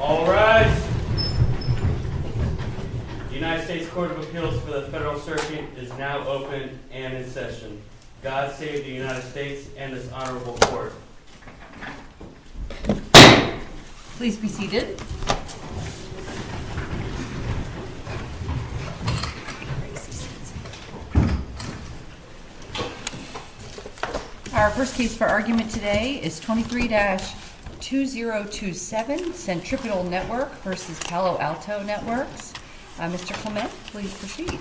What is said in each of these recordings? All rise. The United States Court of Appeals for the Federal Circuit is now open and in session. God save the United States and this Honorable Court. Please be seated. Our first case for argument today is 23-2027, Centripetal Network v. Palo Alto Networks. Mr. Clement, please proceed.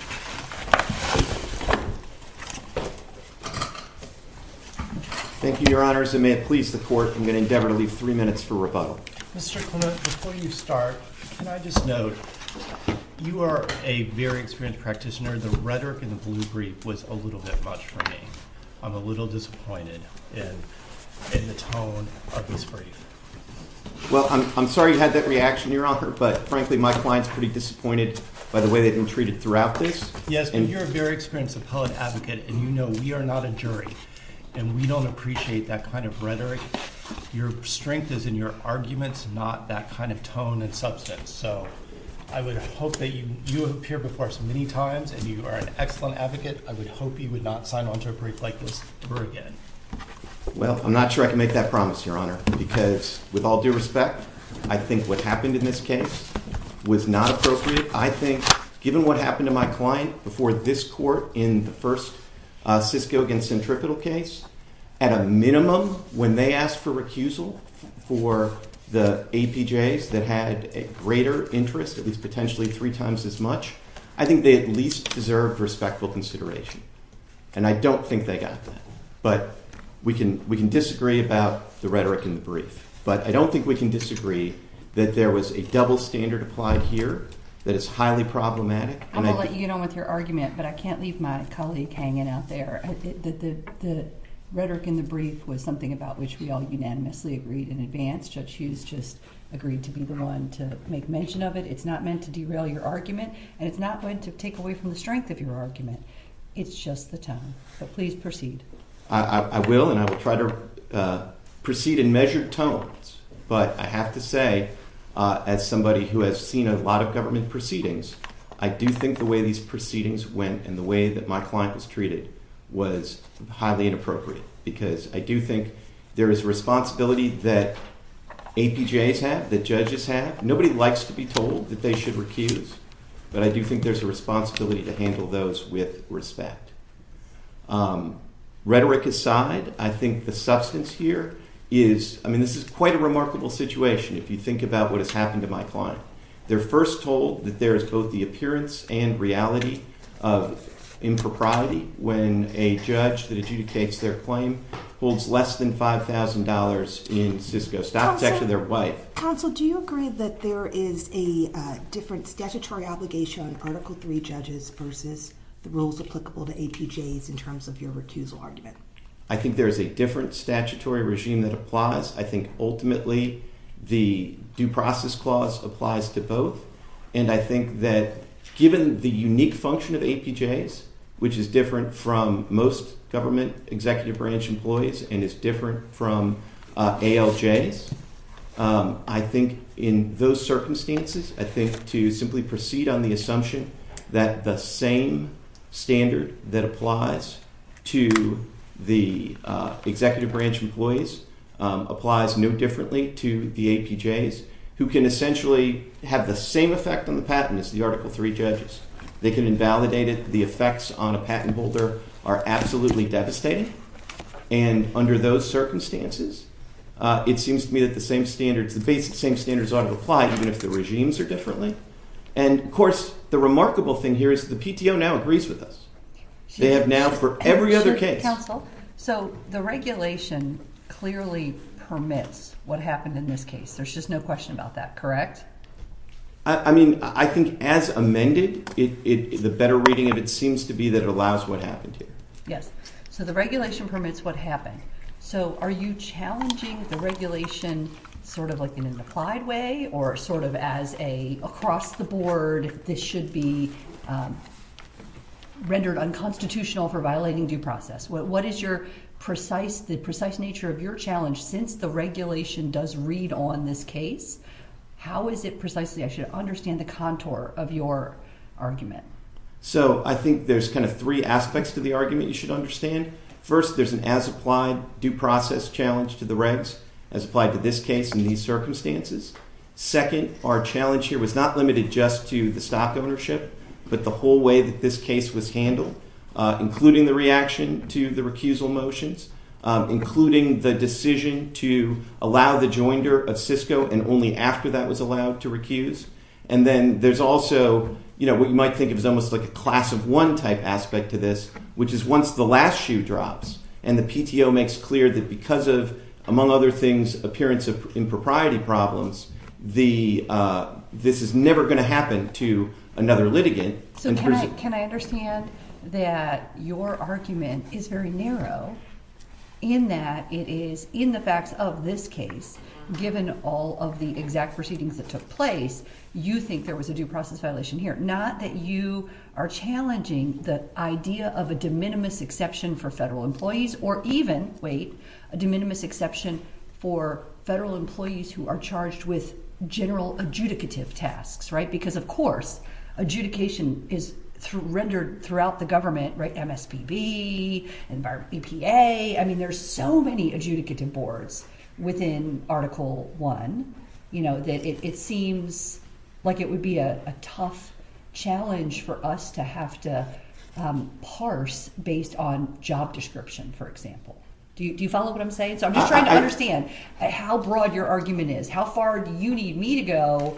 Thank you, Your Honors, and may it please the Court, I'm going to endeavor to leave three minutes for rebuttal. Mr. Clement, before you start, can I just note, you are a very experienced practitioner. The rhetoric in the blue brief was a little bit much for me. I'm a little disappointed in the tone of this brief. Well, I'm sorry you had that reaction, Your Honor, but frankly, my client's pretty disappointed by the way they've been treated throughout this. Yes, but you're a very experienced appellate advocate, and you know we are not a jury, and we don't appreciate that kind of rhetoric. Your strength is in your arguments, not that kind of tone and substance. So I would hope that you appear before us many times, and you are an excellent advocate. I would hope you would not sign on to a brief like this ever again. Well, I'm not sure I can make that promise, Your Honor, because with all due respect, I think what happened in this case was not appropriate. I think given what happened to my client before this court in the first Cisco against Centripetal case, at a minimum, when they asked for recusal for the APJs that had a greater interest, at least potentially three times as much, I think they at least deserved respectful consideration, and I don't think they got that. But we can disagree about the rhetoric in the brief, but I don't think we can disagree that there was a double standard applied here that is highly problematic. I'm going to let you get on with your argument, but I can't leave my colleague hanging out there. The rhetoric in the brief was something about which we all unanimously agreed in advance. Judge Hughes just agreed to be the one to make mention of it. It's not meant to derail your argument, and it's not going to take away from the strength of your argument. It's just the tone, but please proceed. I will, and I will try to proceed in measured tones, but I have to say as somebody who has seen a lot of government proceedings, I do think the way these proceedings went and the way that my client was treated was highly inappropriate because I do think there is a responsibility that APJs have, that judges have. Nobody likes to be told that they should recuse, but I do think there's a responsibility to handle those with respect. Rhetoric aside, I think the substance here is, I mean, this is quite a remarkable situation if you think about what has happened to my client. They're first told that there is both the appearance and reality of impropriety when a judge that adjudicates their claim holds less than $5,000 in Cisco stock. It's actually their wife. Counsel, do you agree that there is a different statutory obligation on Article III judges versus the rules applicable to APJs in terms of your recusal argument? I think there is a different statutory regime that applies. I think ultimately the Due Process Clause applies to both, and I think that given the unique function of APJs, which is different from most government executive branch employees and is different from ALJs, I think in those circumstances, I think to simply proceed on the assumption that the same standard that applies to the executive branch employees applies no differently to the APJs, who can essentially have the same effect on the patent as the Article III judges. They can invalidate it. The effects on a patent holder are absolutely devastating, and under those circumstances, it seems to me that the same standards, the basic same standards ought to apply even if the regimes are differently. And, of course, the remarkable thing here is the PTO now agrees with us. They have now for every other case. Counsel, so the regulation clearly permits what happened in this case. There's just no question about that, correct? I mean, I think as amended, the better reading of it seems to be that it allows what happened here. Yes. So the regulation permits what happened. So are you challenging the regulation sort of like in an applied way or sort of as a across-the-board this should be rendered unconstitutional for violating due process? What is the precise nature of your challenge since the regulation does read on this case? How is it precisely? I should understand the contour of your argument. So I think there's kind of three aspects to the argument you should understand. First, there's an as-applied due process challenge to the regs as applied to this case in these circumstances. Second, our challenge here was not limited just to the stock ownership but the whole way that this case was handled, including the reaction to the recusal motions, including the decision to allow the joinder of Cisco and only after that was allowed to recuse. And then there's also what you might think of as almost like a class-of-one type aspect to this, which is once the last shoe drops and the PTO makes clear that because of, among other things, appearance of impropriety problems, this is never going to happen to another litigant. So can I understand that your argument is very narrow in that it is in the facts of this case, given all of the exact proceedings that took place, you think there was a due process violation here, not that you are challenging the idea of a de minimis exception for federal employees or even, wait, a de minimis exception for federal employees who are charged with general adjudicative tasks, right? Because, of course, adjudication is rendered throughout the government, right? MSPB, EPA. I mean, there's so many adjudicative boards within Article I that it seems like it would be a tough challenge for us to have to parse based on job description, for example. Do you follow what I'm saying? So I'm just trying to understand how broad your argument is. How far do you need me to go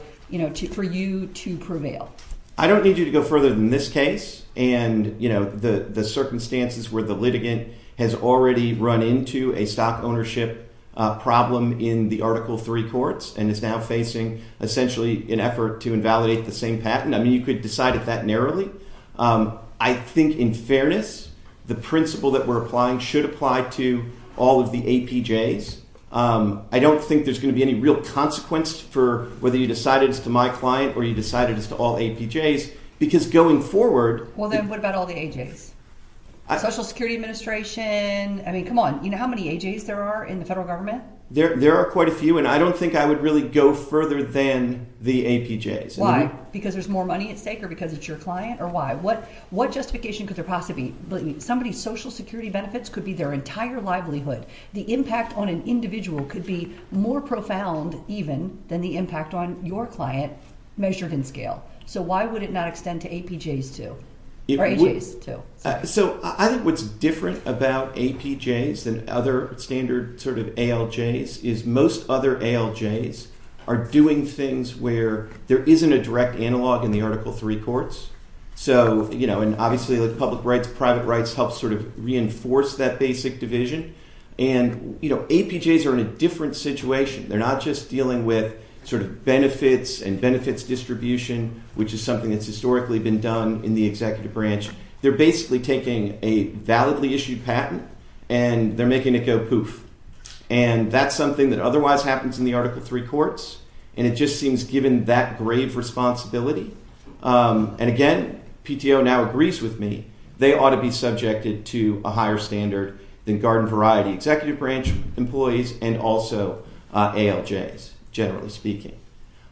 for you to prevail? I don't need you to go further than this case and, you know, the circumstances where the litigant has already run into a stock ownership problem in the Article III courts and is now facing, essentially, an effort to invalidate the same patent. I mean, you could decide it that narrowly. I think, in fairness, the principle that we're applying should apply to all of the APJs. I don't think there's going to be any real consequence for whether you decided it's to my client or you decided it's to all APJs because going forward— Well, then what about all the AJs? Social Security Administration. I mean, come on. You know how many AJs there are in the federal government? There are quite a few, and I don't think I would really go further than the APJs. Why? Because there's more money at stake or because it's your client or why? What justification could there possibly be? Somebody's social security benefits could be their entire livelihood. The impact on an individual could be more profound even than the impact on your client measured in scale. So why would it not extend to APJs too? I think what's different about APJs than other standard ALJs is most other ALJs are doing things where there isn't a direct analog in the Article III courts. Obviously, public rights, private rights help reinforce that basic division. APJs are in a different situation. They're not just dealing with sort of benefits and benefits distribution, which is something that's historically been done in the executive branch. They're basically taking a validly issued patent, and they're making it go poof. And that's something that otherwise happens in the Article III courts, and it just seems given that grave responsibility. And again, PTO now agrees with me. They ought to be subjected to a higher standard than garden-variety executive branch employees and also ALJs, generally speaking.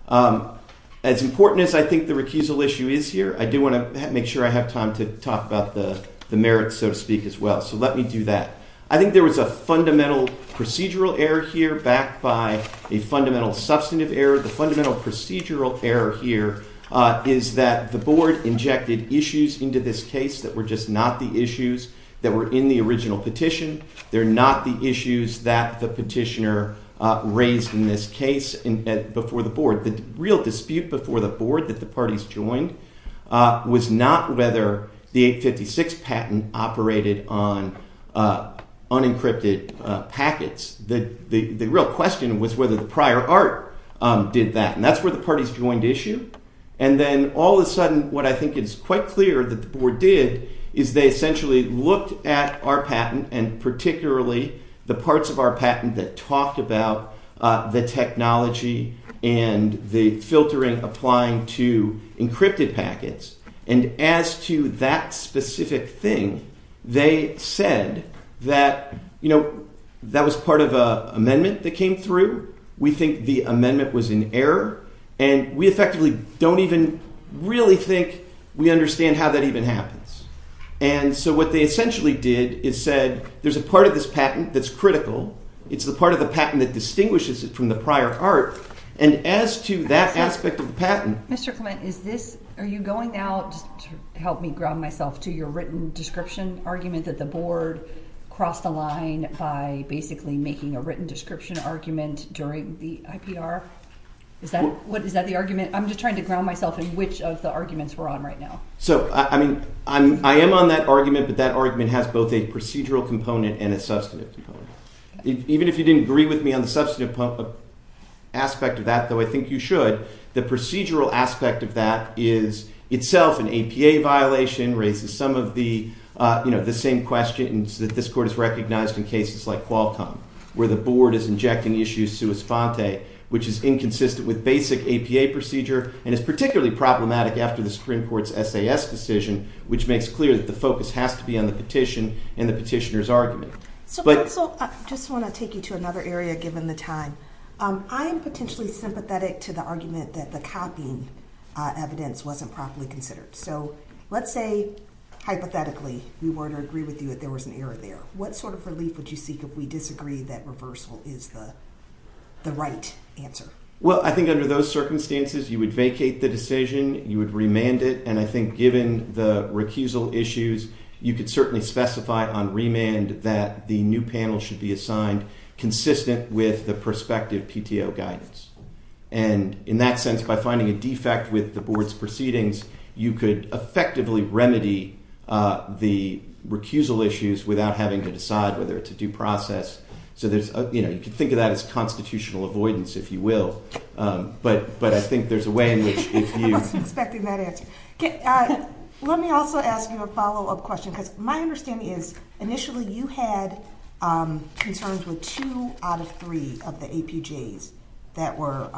As important as I think the recusal issue is here, I do want to make sure I have time to talk about the merits, so to speak, as well. So let me do that. I think there was a fundamental procedural error here backed by a fundamental substantive error. The fundamental procedural error here is that the board injected issues into this case that were just not the issues that were in the original petition. They're not the issues that the petitioner raised in this case before the board. The real dispute before the board that the parties joined was not whether the 856 patent operated on unencrypted packets. The real question was whether the prior art did that, and that's where the parties joined issue. And then all of a sudden what I think is quite clear that the board did is they essentially looked at our patent and particularly the parts of our patent that talked about the technology and the filtering applying to encrypted packets. And as to that specific thing, they said that, you know, that was part of an amendment that came through. We think the amendment was in error, and we effectively don't even really think we understand how that even happens. And so what they essentially did is said there's a part of this patent that's critical. It's the part of the patent that distinguishes it from the prior art, and as to that aspect of the patent. Mr. Clement, are you going now to help me ground myself to your written description argument that the board crossed a line by basically making a written description argument during the IPR? Is that the argument? I'm just trying to ground myself in which of the arguments we're on right now. So, I mean, I am on that argument, but that argument has both a procedural component and a substantive component. Even if you didn't agree with me on the substantive aspect of that, though, I think you should. The procedural aspect of that is itself an APA violation, raises some of the, you know, the same questions that this court has recognized in cases like Qualcomm, where the board is injecting issues sui sponte, which is inconsistent with basic APA procedure and is particularly problematic after the Supreme Court's SAS decision, which makes clear that the focus has to be on the petition and the petitioner's argument. So, counsel, I just want to take you to another area given the time. I am potentially sympathetic to the argument that the copying evidence wasn't properly considered. So, let's say, hypothetically, we were to agree with you that there was an error there. What sort of relief would you seek if we disagree that reversal is the right answer? Well, I think under those circumstances, you would vacate the decision, you would remand it, and I think given the recusal issues, you could certainly specify on remand that the new panel should be assigned consistent with the prospective PTO guidance. And in that sense, by finding a defect with the board's proceedings, you could effectively remedy the recusal issues without having to decide whether it's a due process. So there's, you know, you could think of that as constitutional avoidance, if you will. But I think there's a way in which if you... I wasn't expecting that answer. Let me also ask you a follow-up question, because my understanding is, initially you had concerns with two out of three of the APJs that were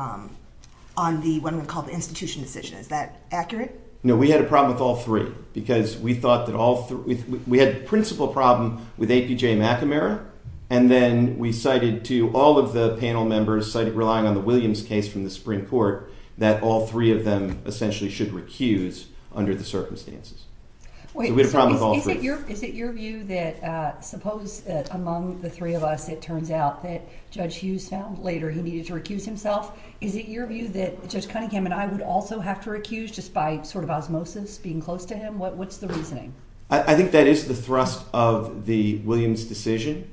on the, what one would call the institution decision. Is that accurate? No, we had a problem with all three, because we thought that all three... We had a principal problem with APJ McNamara, and then we cited to all of the panel members, citing relying on the Williams case from the Supreme Court, that all three of them essentially should recuse under the circumstances. So we had a problem with all three. Wait, so is it your view that, suppose that among the three of us, it turns out that Judge Hughes found later he needed to recuse himself? Is it your view that Judge Cunningham and I would also have to recuse just by sort of osmosis, being close to him? What's the reasoning? I think that is the thrust of the Williams decision,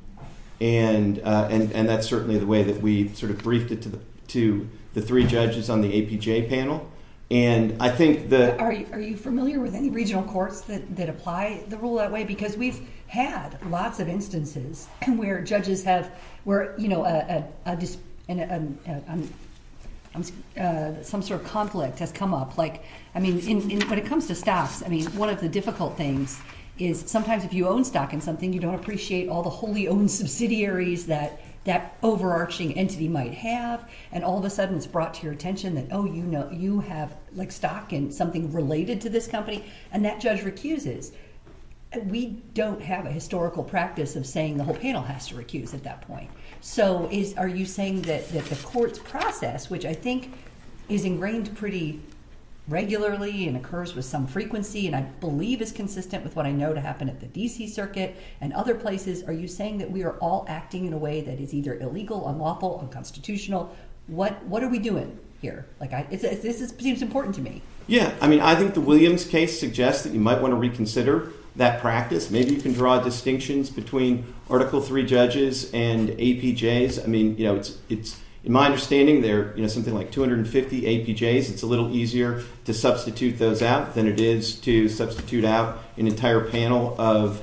and that's certainly the way that we sort of briefed it to the three judges on the APJ panel. And I think that... Are you familiar with any regional courts that apply the rule that way? Because we've had lots of instances where judges have... Where, you know, some sort of conflict has come up. Like, I mean, when it comes to staffs, I mean, one of the difficult things is sometimes if you own stock in something, you don't appreciate all the wholly owned subsidiaries that that overarching entity might have, and all of a sudden it's brought to your attention that, oh, you know, you have, like, stock in something related to this company, and that judge recuses. We don't have a historical practice of saying the whole panel has to recuse at that point. So are you saying that the court's process, which I think is ingrained pretty regularly and occurs with some frequency and I believe is consistent with what I know to happen at the D.C. Circuit and other places, are you saying that we are all acting in a way that is either illegal, unlawful, unconstitutional? What are we doing here? Like, this seems important to me. Yeah. I mean, I think the Williams case suggests that you might want to reconsider that practice. Maybe you can draw distinctions between Article III judges and APJs. I mean, you know, it's, in my understanding, there are something like 250 APJs. It's a little easier to substitute those out than it is to substitute out an entire panel of,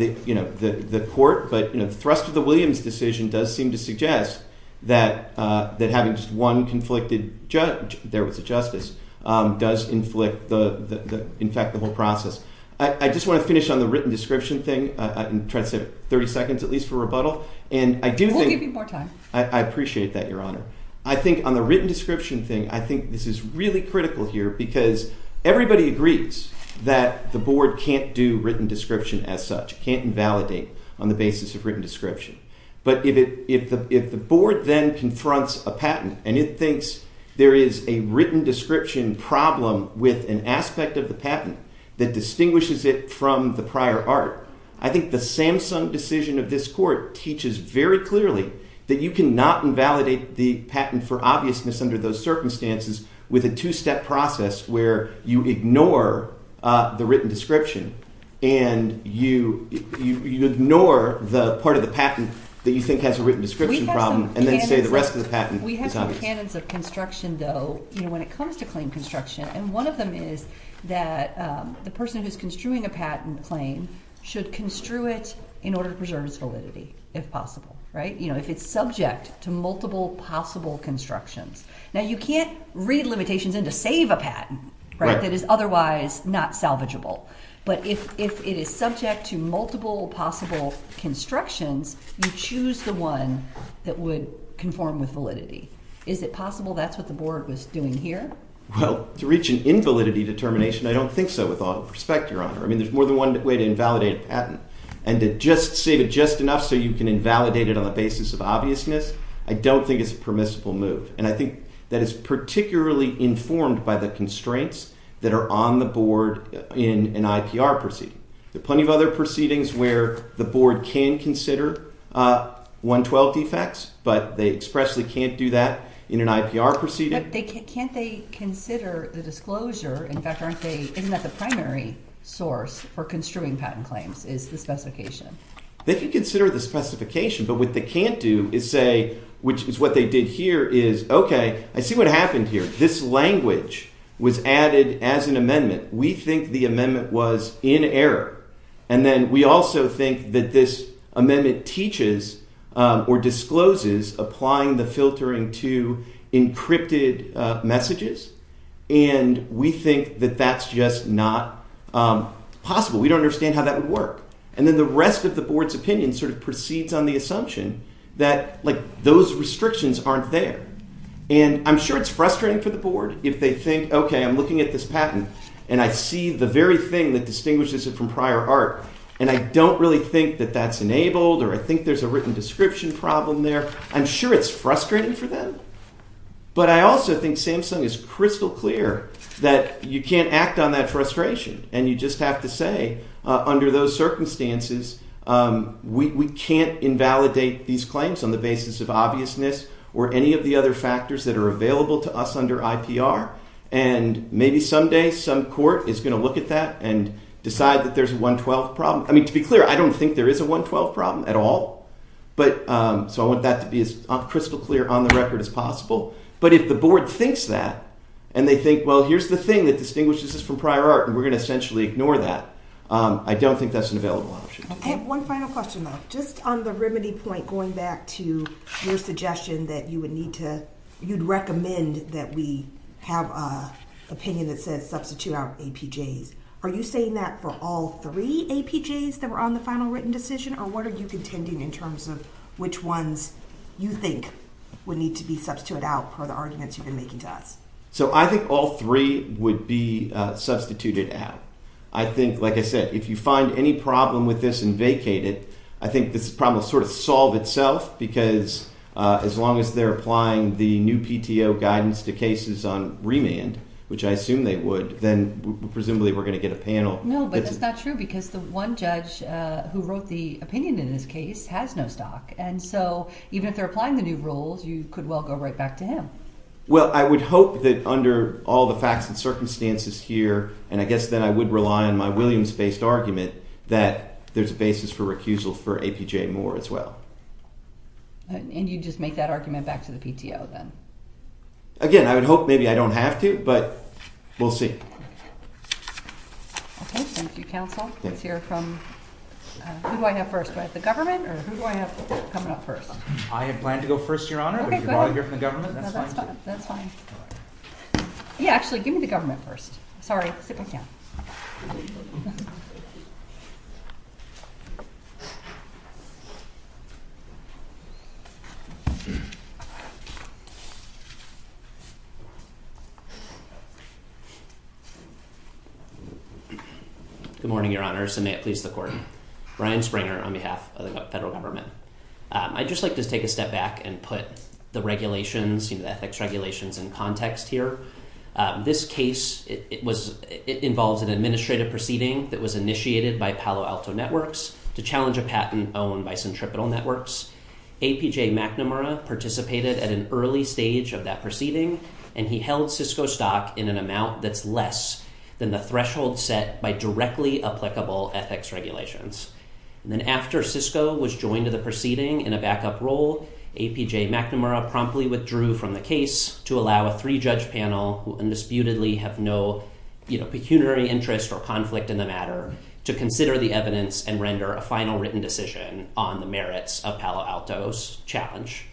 you know, the court. But, you know, the thrust of the Williams decision does seem to suggest that having just one conflicted judge, there was a justice, does inflict, in fact, the whole process. I just want to finish on the written description thing and try to save 30 seconds at least for rebuttal. We'll give you more time. I appreciate that, Your Honor. I think on the written description thing, I think this is really critical here because everybody agrees that the board can't do written description as such, can't invalidate on the basis of written description. But if the board then confronts a patent and it thinks there is a written description problem with an aspect of the patent that distinguishes it from the prior art, I think the Samsung decision of this court teaches very clearly that you cannot invalidate the patent for obviousness under those circumstances with a two-step process where you ignore the written description and you ignore the part of the patent that you think has a written description problem and then say the rest of the patent is obvious. We have some canons of construction though, you know, when it comes to claim construction. And one of them is that the person who is construing a patent claim should construe it in order to preserve its validity if possible, right? You know, if it's subject to multiple possible constructions. Now, you can't read limitations in to save a patent, right, that is otherwise not salvageable. But if it is subject to multiple possible constructions, you choose the one that would conform with validity. Is it possible that's what the board was doing here? Well, to reach an invalidity determination, I don't think so with all due respect, Your Honor. I mean there's more than one way to invalidate a patent. And to just save it just enough so you can invalidate it on the basis of obviousness, I don't think it's a permissible move. And I think that is particularly informed by the constraints that are on the board in an IPR proceeding. There are plenty of other proceedings where the board can consider 112 defects but they expressly can't do that in an IPR proceeding. But can't they consider the disclosure? In fact, aren't they – isn't that the primary source for construing patent claims is the specification? They can consider the specification. But what they can't do is say – which is what they did here is, okay, I see what happened here. This language was added as an amendment. We think the amendment was in error. And then we also think that this amendment teaches or discloses applying the filtering to encrypted messages. And we think that that's just not possible. We don't understand how that would work. And then the rest of the board's opinion sort of proceeds on the assumption that like those restrictions aren't there. And I'm sure it's frustrating for the board if they think, okay, I'm looking at this patent and I see the very thing that distinguishes it from prior art. And I don't really think that that's enabled or I think there's a written description problem there. I'm sure it's frustrating for them. But I also think Samsung is crystal clear that you can't act on that frustration. And you just have to say under those circumstances, we can't invalidate these claims on the basis of obviousness or any of the other factors that are available to us under IPR. And maybe someday some court is going to look at that and decide that there's a 112 problem. I mean to be clear, I don't think there is a 112 problem at all. So I want that to be as crystal clear on the record as possible. But if the board thinks that and they think, well, here's the thing that distinguishes this from prior art and we're going to essentially ignore that, I don't think that's an available option. Okay. One final question though. Just on the remedy point going back to your suggestion that you would need to – you'd recommend that we have an opinion that says substitute out APJs. Are you saying that for all three APJs that were on the final written decision? Or what are you contending in terms of which ones you think would need to be substituted out for the arguments you've been making to us? So I think all three would be substituted out. I think, like I said, if you find any problem with this and vacate it, I think this problem will sort of solve itself because as long as they're applying the new PTO guidance to cases on remand, which I assume they would, then presumably we're going to get a panel. No, but that's not true because the one judge who wrote the opinion in this case has no stock. And so even if they're applying the new rules, you could well go right back to him. Well, I would hope that under all the facts and circumstances here, and I guess then I would rely on my Williams-based argument, that there's a basis for recusal for APJ Moore as well. And you'd just make that argument back to the PTO then? Again, I would hope maybe I don't have to, but we'll see. Okay. Thank you, counsel. Let's hear from – who do I have first? Do I have the government or who do I have coming up first? I have planned to go first, Your Honor. Okay, good. But if you want to hear from the government, that's fine too. No, that's fine. That's fine. All right. Yeah, actually, give me the government first. Sorry. Sit back down. Good morning, Your Honors, and may it please the Court. Brian Springer on behalf of the federal government. I'd just like to take a step back and put the regulations, the ethics regulations in context here. This case involves an administrative proceeding that was initiated by Palo Alto Networks to challenge a patent owned by Centripetal Networks. APJ McNamara participated at an early stage of that proceeding, and he held Cisco stock in an amount that's less than the threshold set by directly applicable ethics regulations. And then after Cisco was joined to the proceeding in a backup role, APJ McNamara promptly withdrew from the case to allow a three-judge panel, who undisputedly have no pecuniary interest or conflict in the matter, to consider the evidence and render a final written decision on the merits of Palo Alto's challenge.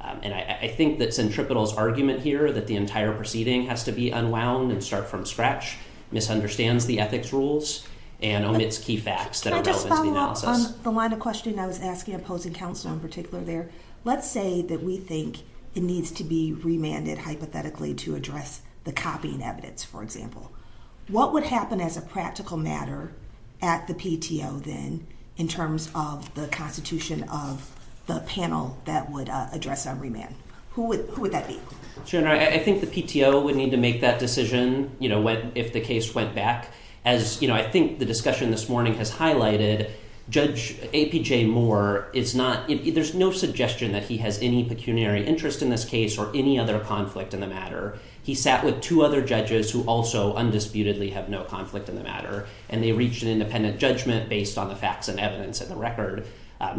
And I think that Centripetal's argument here that the entire proceeding has to be unwound and start from scratch misunderstands the ethics rules and omits key facts that are relevant to the analysis. Can I just follow up on the line of questioning I was asking opposing counsel in particular there? Let's say that we think it needs to be remanded hypothetically to address the copying evidence, for example. What would happen as a practical matter at the PTO then in terms of the constitution of the panel that would address a remand? Who would that be? Sharon, I think the PTO would need to make that decision if the case went back. As I think the discussion this morning has highlighted, Judge APJ Moore, there's no suggestion that he has any pecuniary interest in this case or any other conflict in the matter. He sat with two other judges who also undisputedly have no conflict in the matter, and they reached an independent judgment based on the facts and evidence in the record.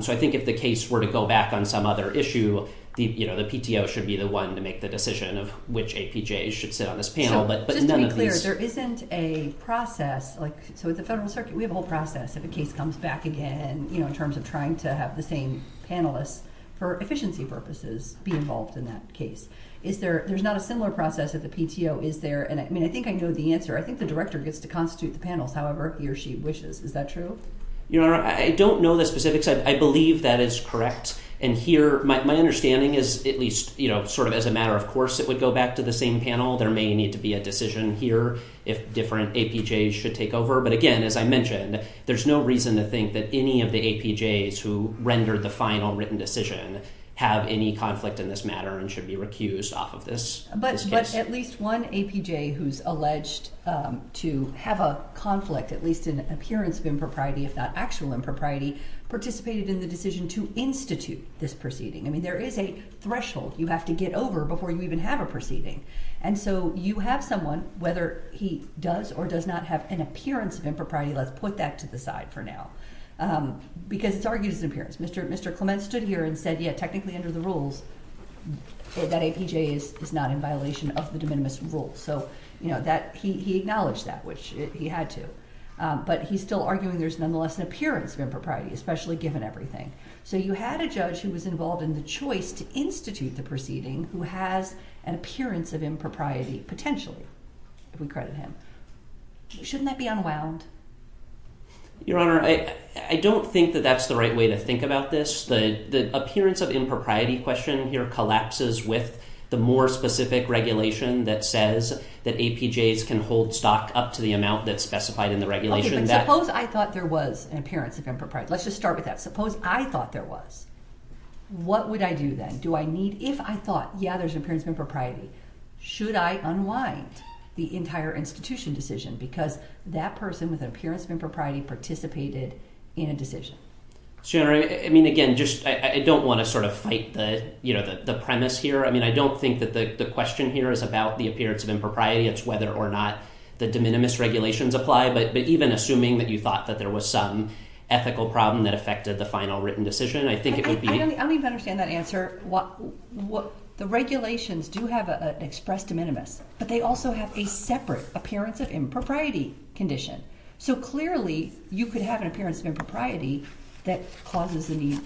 So I think if the case were to go back on some other issue, the PTO should be the one to make the decision of which APJs should sit on this panel. Just to be clear, there isn't a process. So at the Federal Circuit, we have a whole process if a case comes back again in terms of trying to have the same panelists for efficiency purposes be involved in that case. There's not a similar process at the PTO, is there? I mean, I think I know the answer. I think the director gets to constitute the panels however he or she wishes. Is that true? Your Honor, I don't know the specifics. I believe that is correct. And here, my understanding is at least sort of as a matter of course it would go back to the same panel. There may need to be a decision here if different APJs should take over. But again, as I mentioned, there's no reason to think that any of the APJs who rendered the final written decision have any conflict in this matter and should be recused off of this case. But at least one APJ who's alleged to have a conflict, at least an appearance of impropriety if not actual impropriety, participated in the decision to institute this proceeding. I mean, there is a threshold you have to get over before you even have a proceeding. And so you have someone, whether he does or does not have an appearance of impropriety, let's put that to the side for now, because it's argued as an appearance. Mr. Clement stood here and said, yeah, technically under the rules that APJ is not in violation of the de minimis rules. So he acknowledged that, which he had to. But he's still arguing there's nonetheless an appearance of impropriety, especially given everything. So you had a judge who was involved in the choice to institute the proceeding who has an appearance of impropriety potentially, if we credit him. Shouldn't that be unwound? Your Honor, I don't think that that's the right way to think about this. The appearance of impropriety question here collapses with the more specific regulation that says that APJs can hold stock up to the amount that's specified in the regulation. Suppose I thought there was an appearance of impropriety. Let's just start with that. Suppose I thought there was. What would I do then? If I thought, yeah, there's an appearance of impropriety, should I unwind the entire institution decision? Because that person with an appearance of impropriety participated in a decision. Your Honor, I mean, again, I don't want to sort of fight the premise here. I mean, I don't think that the question here is about the appearance of impropriety. It's whether or not the de minimis regulations apply. But even assuming that you thought that there was some ethical problem that affected the final written decision, I think it would be. I don't even understand that answer. The regulations do have an expressed de minimis, but they also have a separate appearance of impropriety condition. So clearly you could have an appearance of impropriety that causes the need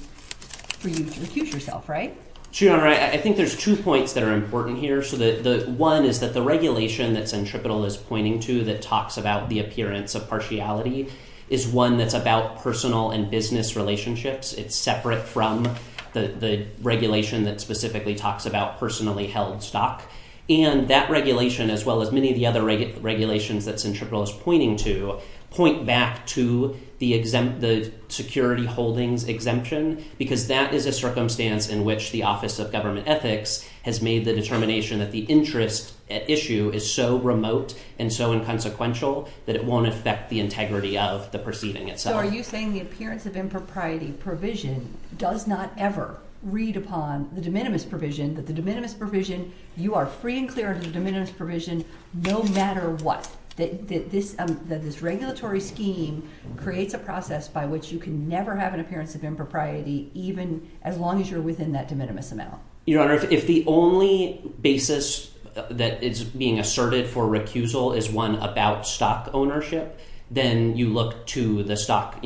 for you to recuse yourself, right? Sure, Your Honor. I think there's two points that are important here. One is that the regulation that Sentripetal is pointing to that talks about the appearance of partiality is one that's about personal and business relationships. It's separate from the regulation that specifically talks about personally held stock. And that regulation, as well as many of the other regulations that Sentripetal is pointing to, point back to the security holdings exemption. Because that is a circumstance in which the Office of Government Ethics has made the determination that the interest at issue is so remote and so inconsequential that it won't affect the integrity of the proceeding itself. So are you saying the appearance of impropriety provision does not ever read upon the de minimis provision? That the de minimis provision, you are free and clear of the de minimis provision no matter what? This regulatory scheme creates a process by which you can never have an appearance of impropriety even as long as you're within that de minimis amount. Your Honor, if the only basis that is being asserted for recusal is one about stock ownership, then you look to the stock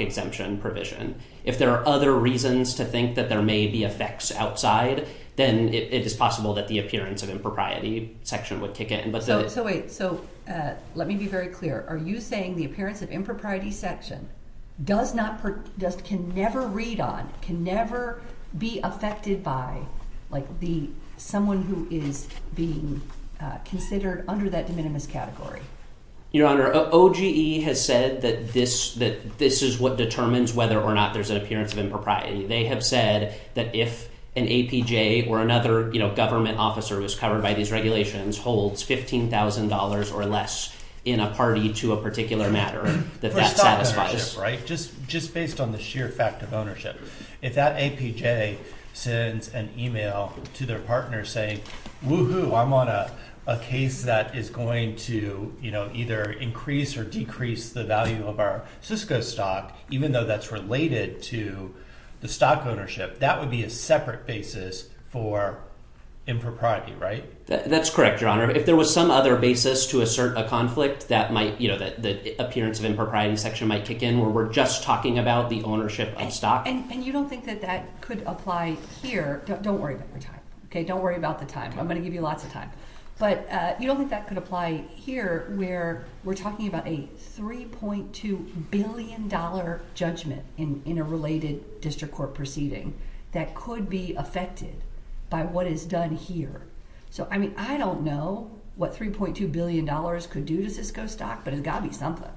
exemption provision. If there are other reasons to think that there may be effects outside, then it is possible that the appearance of impropriety section would kick in. So wait, so let me be very clear. Are you saying the appearance of impropriety section can never read on, can never be affected by someone who is being considered under that de minimis category? Your Honor, OGE has said that this is what determines whether or not there's an appearance of impropriety. They have said that if an APJ or another government officer who is covered by these regulations holds $15,000 or less in a party to a particular matter, that that satisfies. For stock ownership, right? Just based on the sheer fact of ownership. If that APJ sends an email to their partner saying, woohoo, I'm on a case that is going to either increase or decrease the value of our Cisco stock, even though that's related to the stock ownership, that would be a separate basis for impropriety, right? That's correct, Your Honor. If there was some other basis to assert a conflict, the appearance of impropriety section might kick in where we're just talking about the ownership of stock. And you don't think that that could apply here? Don't worry about the time, okay? Don't worry about the time. I'm going to give you lots of time. But you don't think that could apply here where we're talking about a $3.2 billion judgment in a related district court proceeding that could be affected by what is done here? So, I mean, I don't know what $3.2 billion could do to Cisco stock, but it's got to be something.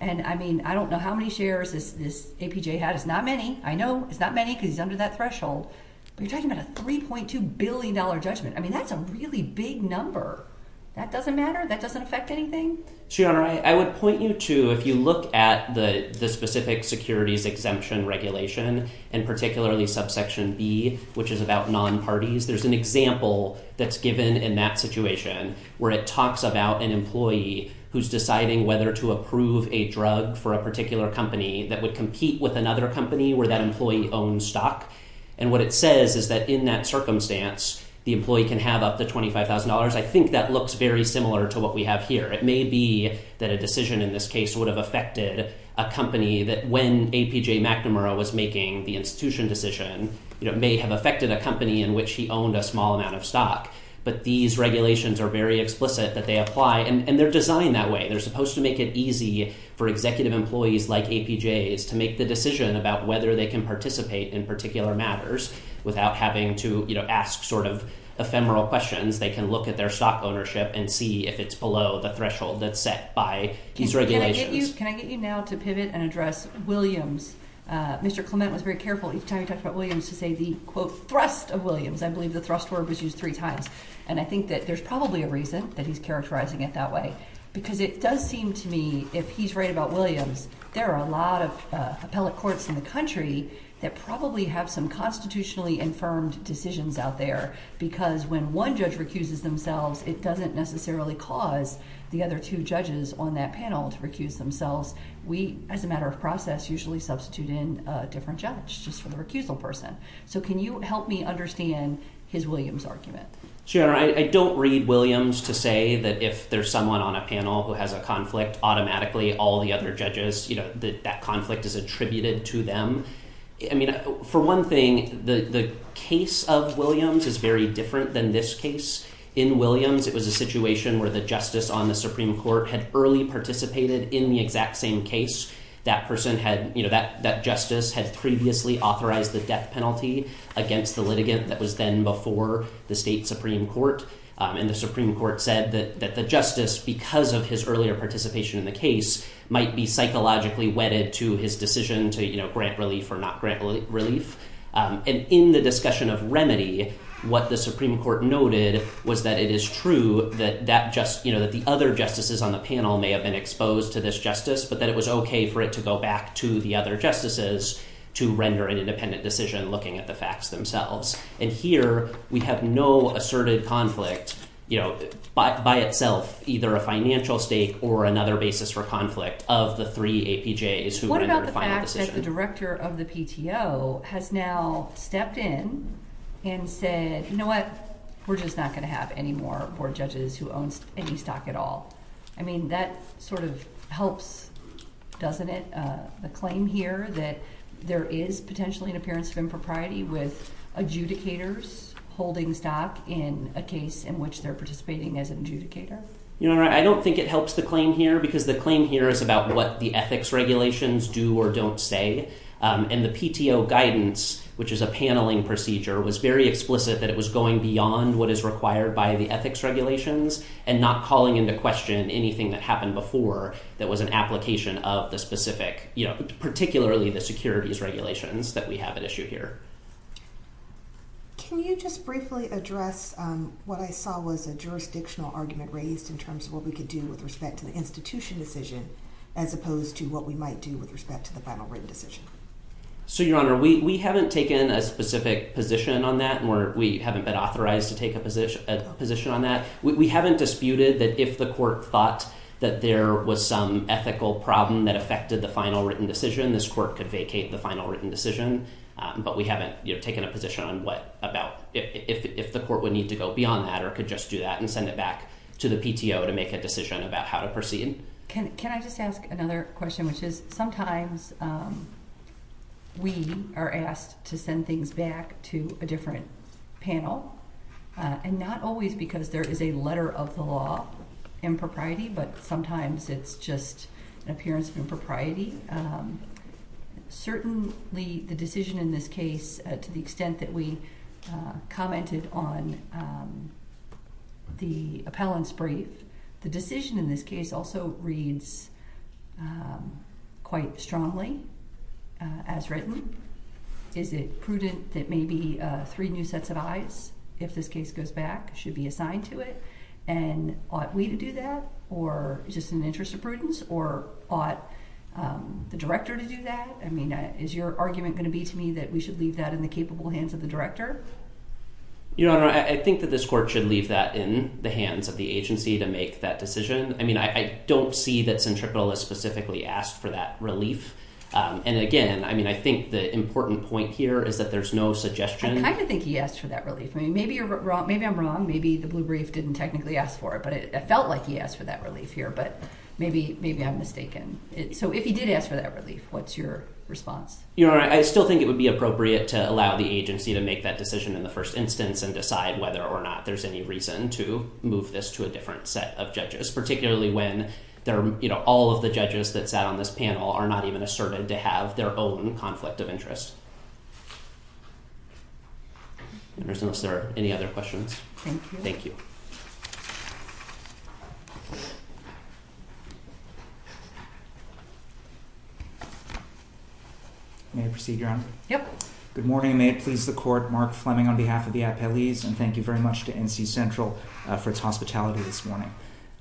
And, I mean, I don't know how many shares this APJ has. It's not many. I know it's not many because he's under that threshold. But you're talking about a $3.2 billion judgment. I mean, that's a really big number. That doesn't matter? That doesn't affect anything? So, Your Honor, I would point you to, if you look at the specific securities exemption regulation, and particularly subsection B, which is about non-parties, there's an example that's given in that situation where it talks about an employee who's deciding whether to approve a drug for a particular company that would compete with another company where that employee owns stock. And what it says is that in that circumstance, the employee can have up to $25,000. I think that looks very similar to what we have here. It may be that a decision in this case would have affected a company that when APJ McNamara was making the institution decision, it may have affected a company in which he owned a small amount of stock. But these regulations are very explicit that they apply, and they're designed that way. They're supposed to make it easy for executive employees like APJs to make the decision about whether they can participate in particular matters without having to ask sort of ephemeral questions. They can look at their stock ownership and see if it's below the threshold that's set by these regulations. Can I get you now to pivot and address Williams? Mr. Clement was very careful each time he talked about Williams to say the, quote, thrust of Williams. I believe the thrust word was used three times. And I think that there's probably a reason that he's characterizing it that way. Because it does seem to me, if he's right about Williams, there are a lot of appellate courts in the country that probably have some constitutionally infirmed decisions out there. Because when one judge recuses themselves, it doesn't necessarily cause the other two judges on that panel to recuse themselves. We, as a matter of process, usually substitute in a different judge just for the recusal person. So can you help me understand his Williams argument? Sure. I don't read Williams to say that if there's someone on a panel who has a conflict, automatically all the other judges, you know, that that conflict is attributed to them. I mean, for one thing, the case of Williams is very different than this case. In Williams, it was a situation where the justice on the Supreme Court had early participated in the exact same case. That person had, you know, that justice had previously authorized the death penalty against the litigant that was then before the state Supreme Court. And the Supreme Court said that the justice, because of his earlier participation in the case, might be psychologically wedded to his decision to grant relief or not grant relief. And in the discussion of remedy, what the Supreme Court noted was that it is true that the other justices on the panel may have been exposed to this justice, but that it was okay for it to go back to the other justices to render an independent decision looking at the facts themselves. And here we have no asserted conflict, you know, by itself, either a financial stake or another basis for conflict of the three APJs who rendered a final decision. The director of the PTO has now stepped in and said, you know what, we're just not going to have any more board judges who owns any stock at all. I mean, that sort of helps, doesn't it? The claim here that there is potentially an appearance of impropriety with adjudicators holding stock in a case in which they're participating as an adjudicator. You know, I don't think it helps the claim here because the claim here is about what the ethics regulations do or don't say. And the PTO guidance, which is a paneling procedure, was very explicit that it was going beyond what is required by the ethics regulations and not calling into question anything that happened before that was an application of the specific, you know, particularly the securities regulations that we have at issue here. Can you just briefly address what I saw was a jurisdictional argument raised in terms of what we could do with respect to the institution decision as opposed to what we might do with respect to the final written decision? So, Your Honor, we haven't taken a specific position on that and we haven't been authorized to take a position on that. We haven't disputed that if the court thought that there was some ethical problem that affected the final written decision, this court could vacate the final written decision. But we haven't taken a position on what about if the court would need to go beyond that or could just do that and send it back to the PTO to make a decision about how to proceed. Can I just ask another question, which is sometimes we are asked to send things back to a different panel and not always because there is a letter of the law impropriety, but sometimes it's just an appearance of impropriety. Certainly, the decision in this case, to the extent that we commented on the appellant's brief, the decision in this case also reads quite strongly as written. Is it prudent that maybe three new sets of eyes, if this case goes back, should be assigned to it? And ought we to do that or just in the interest of prudence or ought the director to do that? I mean, is your argument going to be to me that we should leave that in the capable hands of the director? Your Honor, I think that this court should leave that in the hands of the agency to make that decision. I mean, I don't see that Centripetal has specifically asked for that relief. And again, I mean, I think the important point here is that there's no suggestion. I kind of think he asked for that relief. Maybe I'm wrong. Maybe the blue brief didn't technically ask for it, but it felt like he asked for that relief here, but maybe I'm mistaken. So if he did ask for that relief, what's your response? Your Honor, I still think it would be appropriate to allow the agency to make that decision in the first instance and decide whether or not there's any reason to move this to a different set of judges, particularly when all of the judges that sat on this panel are not even asserted to have their own conflict of interest. Unless there are any other questions. Thank you. May I proceed, Your Honor? Yep. Good morning. May it please the court. Mark Fleming on behalf of the appellees, and thank you very much to NC Central for its hospitality this morning.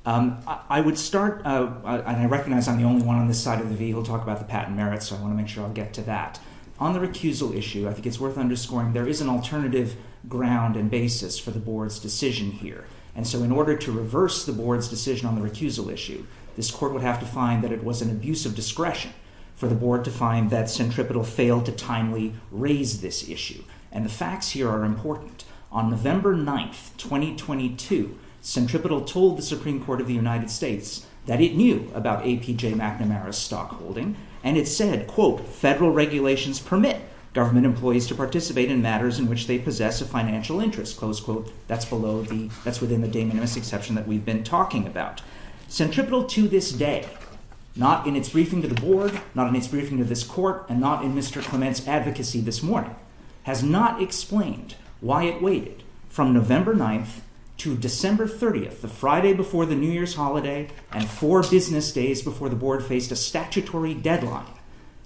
I would start, and I recognize I'm the only one on this side of the vehicle to talk about the patent merits, so I want to make sure I get to that. On the recusal issue, I think it's worth underscoring there is an alternative ground and basis for the board's decision here. And so in order to reverse the board's decision on the recusal issue, this court would have to find that it was an abuse of discretion for the board to find that Centripetal failed to timely raise this issue. And the facts here are important. On November 9th, 2022, Centripetal told the Supreme Court of the United States that it knew about APJ McNamara's stockholding, and it said, quote, has not explained why it waited from November 9th to December 30th, the Friday before the New Year's holiday, and four business days before the board faced a statutory deadline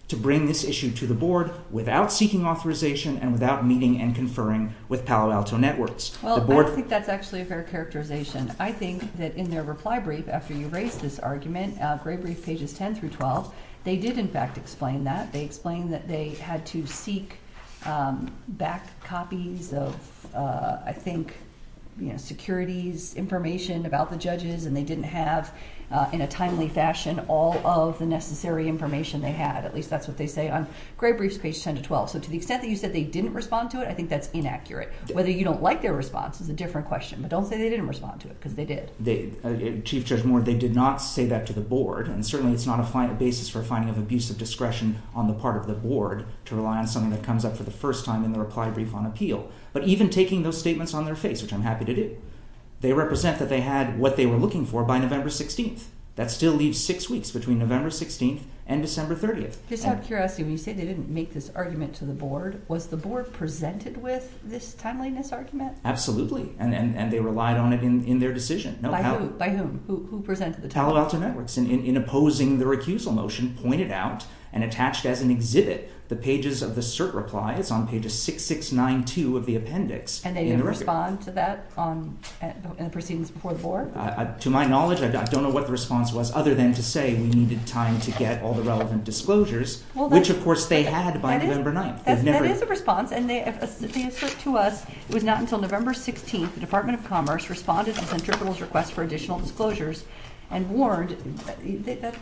to bring this issue to the board without seeking authorization and without meeting and conferring with Palo Alto Networks. Well, I don't think that's actually a fair characterization. I think that in their reply brief after you raised this argument, Gray Brief pages 10 through 12, they did, in fact, explain that. They explained that they had to seek back copies of, I think, securities information about the judges, and they didn't have in a timely fashion all of the necessary information they had. At least that's what they say on Gray Brief's page 10 to 12. So to the extent that you said they didn't respond to it, I think that's inaccurate. Whether you don't like their response is a different question, but don't say they didn't respond to it because they did. Chief Judge Moore, they did not say that to the board, and certainly it's not a basis for finding of abuse of discretion on the part of the board to rely on something that comes up for the first time in the reply brief on appeal. But even taking those statements on their face, which I'm happy to do, they represent that they had what they were looking for by November 16th. That still leaves six weeks between November 16th and December 30th. Just out of curiosity, when you said they didn't make this argument to the board, was the board presented with this timeliness argument? Absolutely, and they relied on it in their decision. By whom? Who presented the time? And they didn't respond to that in the proceedings before the board? To my knowledge, I don't know what the response was, other than to say we needed time to get all the relevant disclosures, which, of course, they had by November 9th. That is a response, and they assert to us it was not until November 16th the Department of Commerce responded to Centripetal's request for additional disclosures and warned.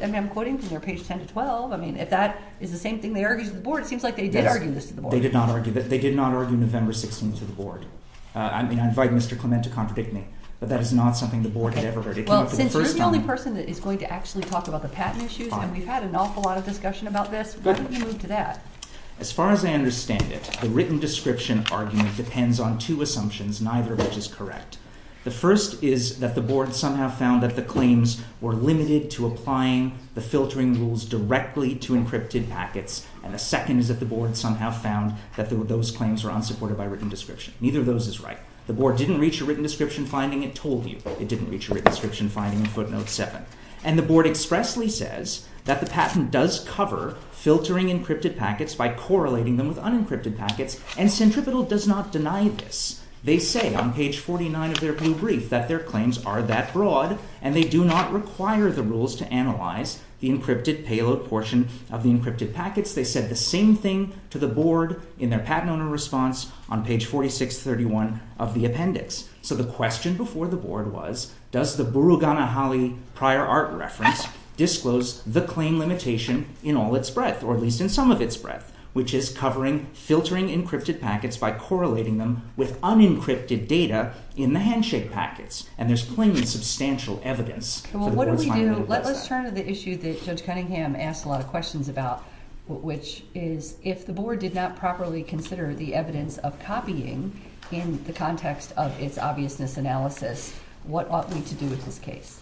I'm quoting from their page 10 to 12. If that is the same thing they argued to the board, it seems like they did argue this to the board. They did not argue November 16th to the board. I mean, I invite Mr. Clement to contradict me, but that is not something the board had ever heard. Well, since you're the only person that is going to actually talk about the patent issues, and we've had an awful lot of discussion about this, why don't you move to that? As far as I understand it, the written description argument depends on two assumptions, neither of which is correct. The first is that the board somehow found that the claims were limited to applying the filtering rules directly to encrypted packets, and the second is that the board somehow found that those claims were unsupported by written description. Neither of those is right. The board didn't reach a written description finding. It told you it didn't reach a written description finding in footnote 7. And the board expressly says that the patent does cover filtering encrypted packets by correlating them with unencrypted packets, and Centripetal does not deny this. They say on page 49 of their blue brief that their claims are that broad, and they do not require the rules to analyze the encrypted payload portion of the encrypted packets. They said the same thing to the board in their patent owner response on page 4631 of the appendix. So the question before the board was, does the Burugana-Hawley prior art reference disclose the claim limitation in all its breadth, or at least in some of its breadth, which is covering filtering encrypted packets by correlating them with unencrypted data in the handshake packets? And there's plenty of substantial evidence for the board's finding that it does that. Let's turn to the issue that Judge Cunningham asked a lot of questions about, which is, if the board did not properly consider the evidence of copying in the context of its obviousness analysis, what ought we to do with this case?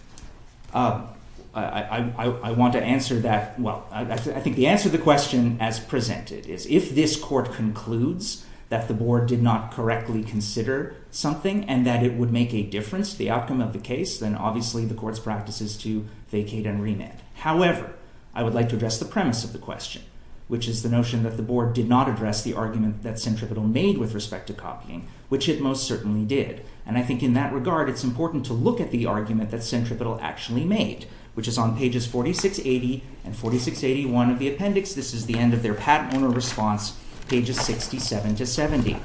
I want to answer that. Well, I think the answer to the question as presented is, if this court concludes that the board did not correctly consider something and that it would make a difference, the outcome of the case, then obviously the court's practice is to vacate and remit. However, I would like to address the premise of the question, which is the notion that the board did not address the argument that Centripetal made with respect to copying, which it most certainly did. And I think in that regard, it's important to look at the argument that Centripetal actually made, which is on pages 4680 and 4681 of the appendix. This is the end of their patent owner response, pages 67 to 70.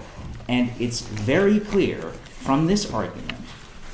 And it's very clear from this argument,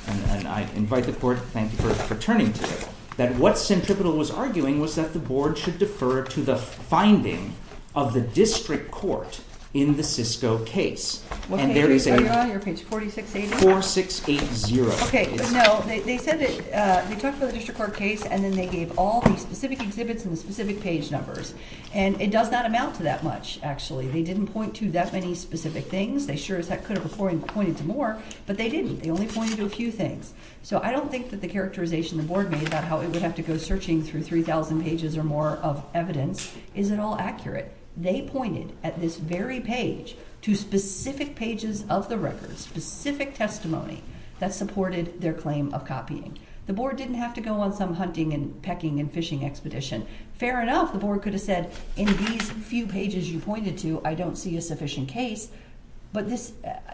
and I invite the court, thank you for turning to it, that what Centripetal was arguing was that the board should defer to the finding of the district court in the Cisco case. And there is a 4680. Okay, no, they said that they talked about the district court case, and then they gave all the specific exhibits and the specific page numbers. And it does not amount to that much, actually. They didn't point to that many specific things. They sure as heck could have pointed to more, but they didn't. They only pointed to a few things. So I don't think that the characterization the board made about how it would have to go searching through 3,000 pages or more of evidence is at all accurate. They pointed at this very page to specific pages of the record, specific testimony that supported their claim of copying. The board didn't have to go on some hunting and pecking and fishing expedition. Fair enough, the board could have said, in these few pages you pointed to, I don't see a sufficient case. But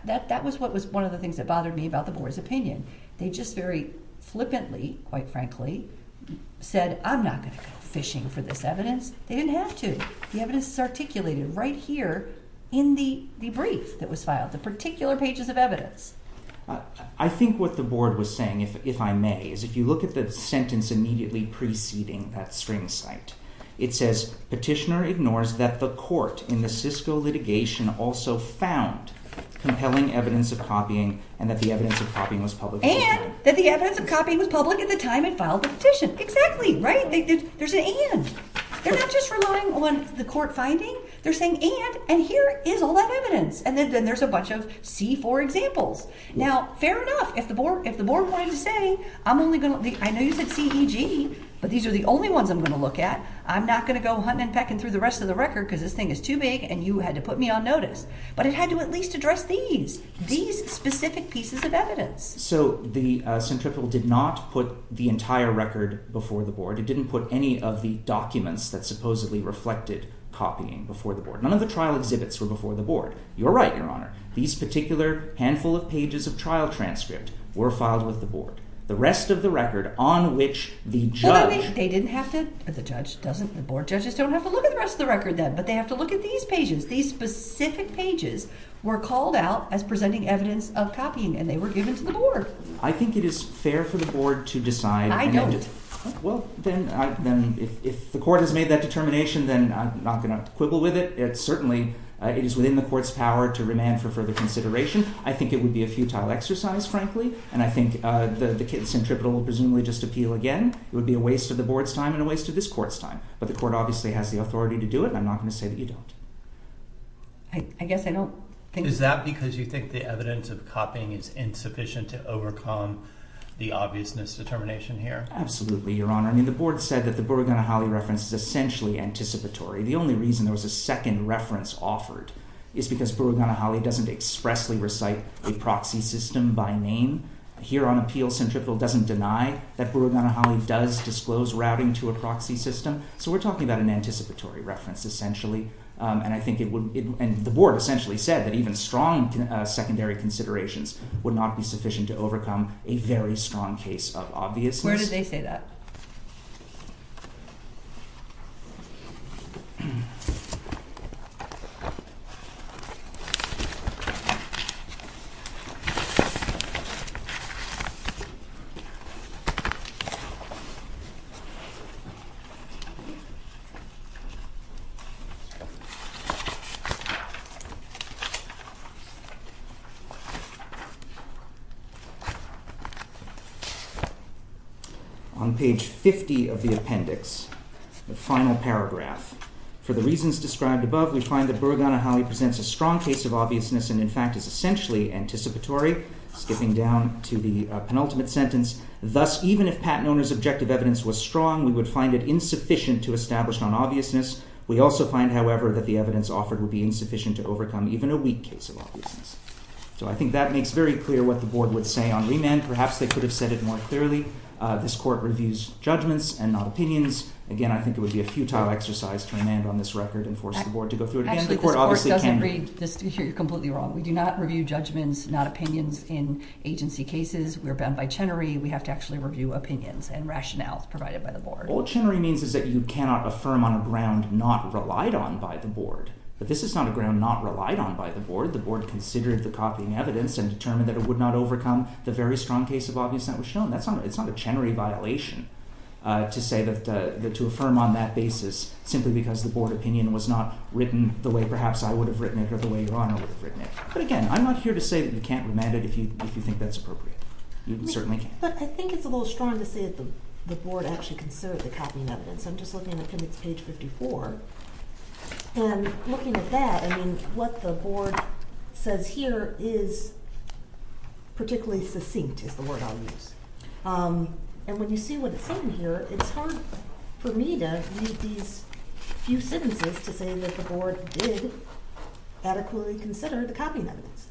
that was one of the things that bothered me about the board's opinion. They just very flippantly, quite frankly, said, I'm not going to go fishing for this evidence. They didn't have to. The evidence is articulated right here in the brief that was filed, the particular pages of evidence. I think what the board was saying, if I may, is if you look at the sentence immediately preceding that string cite, it says, Petitioner ignores that the court in the Cisco litigation also found compelling evidence of copying and that the evidence of copying was public. And that the evidence of copying was public at the time it filed the petition. Exactly, right? There's an and. They're not just relying on the court finding. They're saying and, and here is all that evidence. And then there's a bunch of C4 examples. Now, fair enough. If the board, if the board wanted to say, I'm only going to. I know you said CEG, but these are the only ones I'm going to look at. I'm not going to go hunting and pecking through the rest of the record because this thing is too big and you had to put me on notice. But it had to at least address these, these specific pieces of evidence. So the centripetal did not put the entire record before the board. It didn't put any of the documents that supposedly reflected copying before the board. None of the trial exhibits were before the board. You're right, Your Honor. These particular handful of pages of trial transcript were filed with the board. The rest of the record on which the judge. They didn't have to, the judge doesn't, the board judges don't have to look at the rest of the record then. But they have to look at these pages. These specific pages were called out as presenting evidence of copying and they were given to the board. I think it is fair for the board to decide. I don't. Well, then if the court has made that determination, then I'm not going to quibble with it. It certainly is within the court's power to remand for further consideration. I think it would be a futile exercise, frankly, and I think the centripetal will presumably just appeal again. It would be a waste of the board's time and a waste of this court's time. But the court obviously has the authority to do it. I'm not going to say that you don't. I guess I don't think. Is that because you think the evidence of copying is insufficient to overcome the obviousness determination here? Absolutely, Your Honor. I mean, the board said that the Buruganahalli reference is essentially anticipatory. The only reason there was a second reference offered is because Buruganahalli doesn't expressly recite a proxy system by name. Here on appeal, centripetal doesn't deny that Buruganahalli does disclose routing to a proxy system. So we're talking about an anticipatory reference, essentially. And I think it would, and the board essentially said that even strong secondary considerations would not be sufficient to overcome a very strong case of obviousness. Where did they say that? On page 50 of the appendix, the final paragraph. For the reasons described above, we find that Buruganahalli presents a strong case of obviousness and in fact is essentially anticipatory, skipping down to the penultimate sentence. Thus, even if Pat Noner's objective evidence was strong, we would find it insufficient to establish an obviousness. We also find, however, that the evidence offered would be insufficient to overcome even a weak case of obviousness. So I think that makes very clear what the board would say on remand. Perhaps they could have said it more clearly. This court reviews judgments and not opinions. Again, I think it would be a futile exercise to remand on this record and force the board to go through it. Actually, this court doesn't read, you're completely wrong. We do not review judgments, not opinions in agency cases. We're bound by Chenery. We have to actually review opinions and rationales provided by the board. All Chenery means is that you cannot affirm on a ground not relied on by the board. But this is not a ground not relied on by the board. The board considered the copying evidence and determined that it would not overcome the very strong case of obviousness that was shown. It's not a Chenery violation to affirm on that basis simply because the board opinion was not written the way perhaps I would have written it or the way Your Honor would have written it. But again, I'm not here to say that you can't remand it if you think that's appropriate. You certainly can't. But I think it's a little strong to say that the board actually considered the copying evidence. I'm just looking at appendix page 54. And looking at that, I mean, what the board says here is particularly succinct is the word I'll use. And when you see what it's saying here, it's hard for me to read these few sentences to say that the board did adequately consider the copying evidence.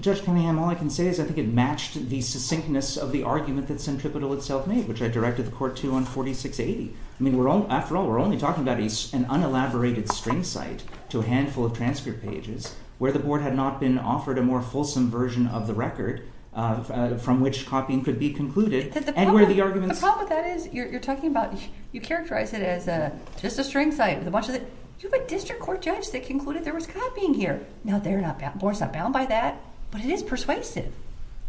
Judge Cunningham, all I can say is I think it matched the succinctness of the argument that Centripetal itself made, which I directed the court to on 4680. I mean, after all, we're only talking about an unelaborated string cite to a handful of transcript pages where the board had not been offered a more fulsome version of the record from which copying could be concluded. And where the arguments… The problem with that is you're talking about – you characterize it as just a string cite. You have a district court judge that concluded there was copying here. Now, the board's not bound by that. But it is persuasive.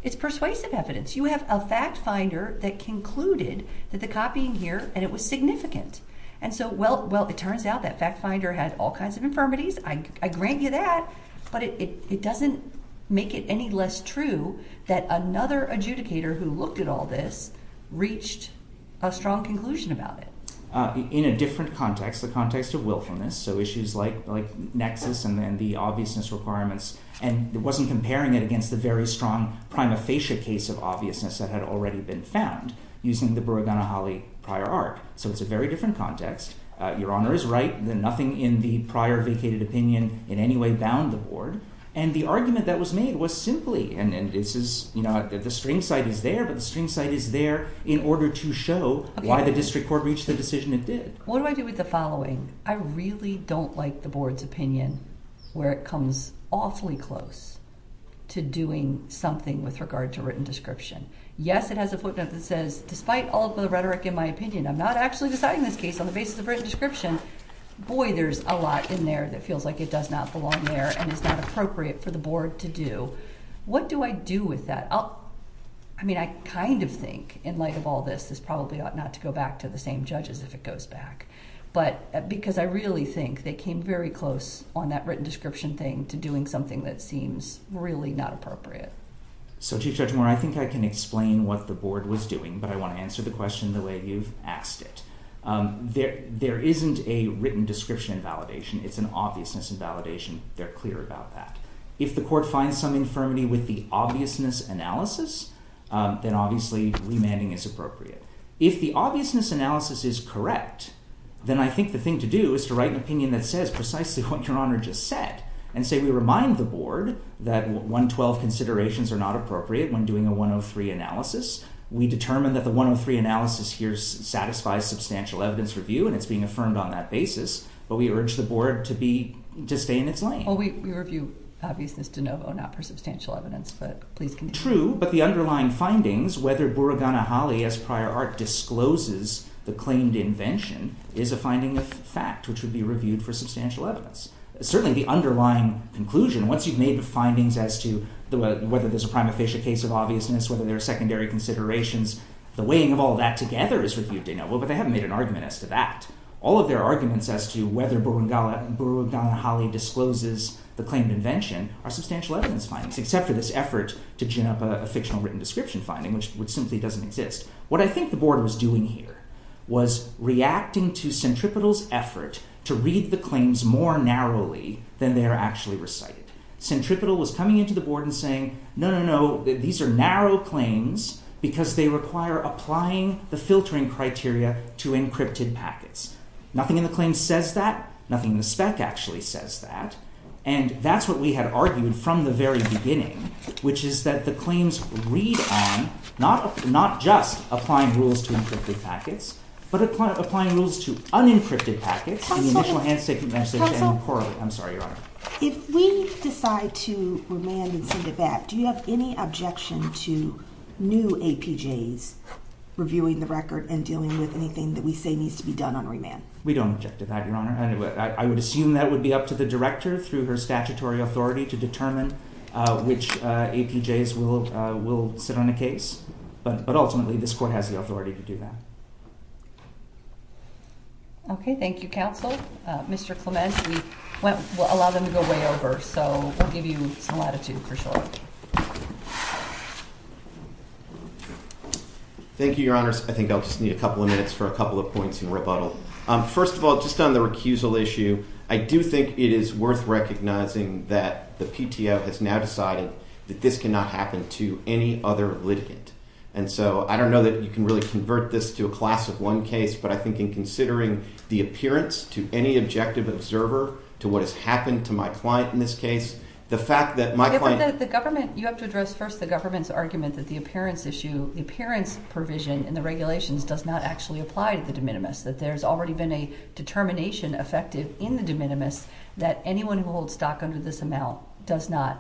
It's persuasive evidence. You have a fact finder that concluded that the copying here – and it was significant. And so, well, it turns out that fact finder had all kinds of infirmities. I grant you that. But it doesn't make it any less true that another adjudicator who looked at all this reached a strong conclusion about it. In a different context, the context of wilfulness, so issues like nexus and then the obviousness requirements. And it wasn't comparing it against the very strong prima facie case of obviousness that had already been found using the Buruganahalli prior art. So it's a very different context. Your Honor is right. Nothing in the prior vacated opinion in any way bound the board. And the argument that was made was simply – and this is – you know, the string cite is there. But the string cite is there in order to show why the district court reached the decision it did. What do I do with the following? I really don't like the board's opinion where it comes awfully close to doing something with regard to written description. Yes, it has a footnote that says, despite all the rhetoric in my opinion, I'm not actually deciding this case on the basis of written description. Boy, there's a lot in there that feels like it does not belong there and is not appropriate for the board to do. What do I do with that? I mean, I kind of think, in light of all this, this probably ought not to go back to the same judges if it goes back. But – because I really think they came very close on that written description thing to doing something that seems really not appropriate. So, Chief Judge Moore, I think I can explain what the board was doing, but I want to answer the question the way you've asked it. There isn't a written description in validation. It's an obviousness in validation. They're clear about that. If the court finds some infirmity with the obviousness analysis, then obviously remanding is appropriate. If the obviousness analysis is correct, then I think the thing to do is to write an opinion that says precisely what Your Honor just said. And say we remind the board that 112 considerations are not appropriate when doing a 103 analysis. We determine that the 103 analysis here satisfies substantial evidence review, and it's being affirmed on that basis. But we urge the board to be – to stay in its lane. Well, we review obviousness de novo, not for substantial evidence, but please continue. True, but the underlying findings, whether Buraganahalli, as prior art discloses the claimed invention, is a finding of fact, which would be reviewed for substantial evidence. Certainly the underlying conclusion, once you've made the findings as to whether there's a prima facie case of obviousness, whether there are secondary considerations, the weighing of all that together is reviewed de novo, but they haven't made an argument as to that. All of their arguments as to whether Buraganahalli discloses the claimed invention are substantial evidence findings, except for this effort to gin up a fictional written description finding, which simply doesn't exist. What I think the board was doing here was reacting to Centripetal's effort to read the claims more narrowly than they are actually recited. Centripetal was coming into the board and saying, no, no, no, these are narrow claims because they require applying the filtering criteria to encrypted packets. Nothing in the claim says that. Nothing in the spec actually says that. And that's what we had argued from the very beginning, which is that the claims read on not just applying rules to encrypted packets, but applying rules to unencrypted packets in the initial handshake and message and correlate. I'm sorry, Your Honor. If we decide to remand and send it back, do you have any objection to new APJs reviewing the record and dealing with anything that we say needs to be done on remand? We don't object to that, Your Honor. I would assume that would be up to the director through her statutory authority to determine which APJs will sit on a case. But ultimately, this court has the authority to do that. Okay, thank you, counsel. Mr. Clement, we'll allow them to go way over, so we'll give you some latitude for sure. Thank you, Your Honors. I think I'll just need a couple of minutes for a couple of points in rebuttal. First of all, just on the recusal issue, I do think it is worth recognizing that the PTO has now decided that this cannot happen to any other litigant. And so I don't know that you can really convert this to a class of one case. But I think in considering the appearance to any objective observer to what has happened to my client in this case, the fact that my client— You have to address first the government's argument that the appearance issue, the appearance provision in the regulations does not actually apply to the de minimis, that there's already been a determination effective in the de minimis that anyone who holds stock under this amount does not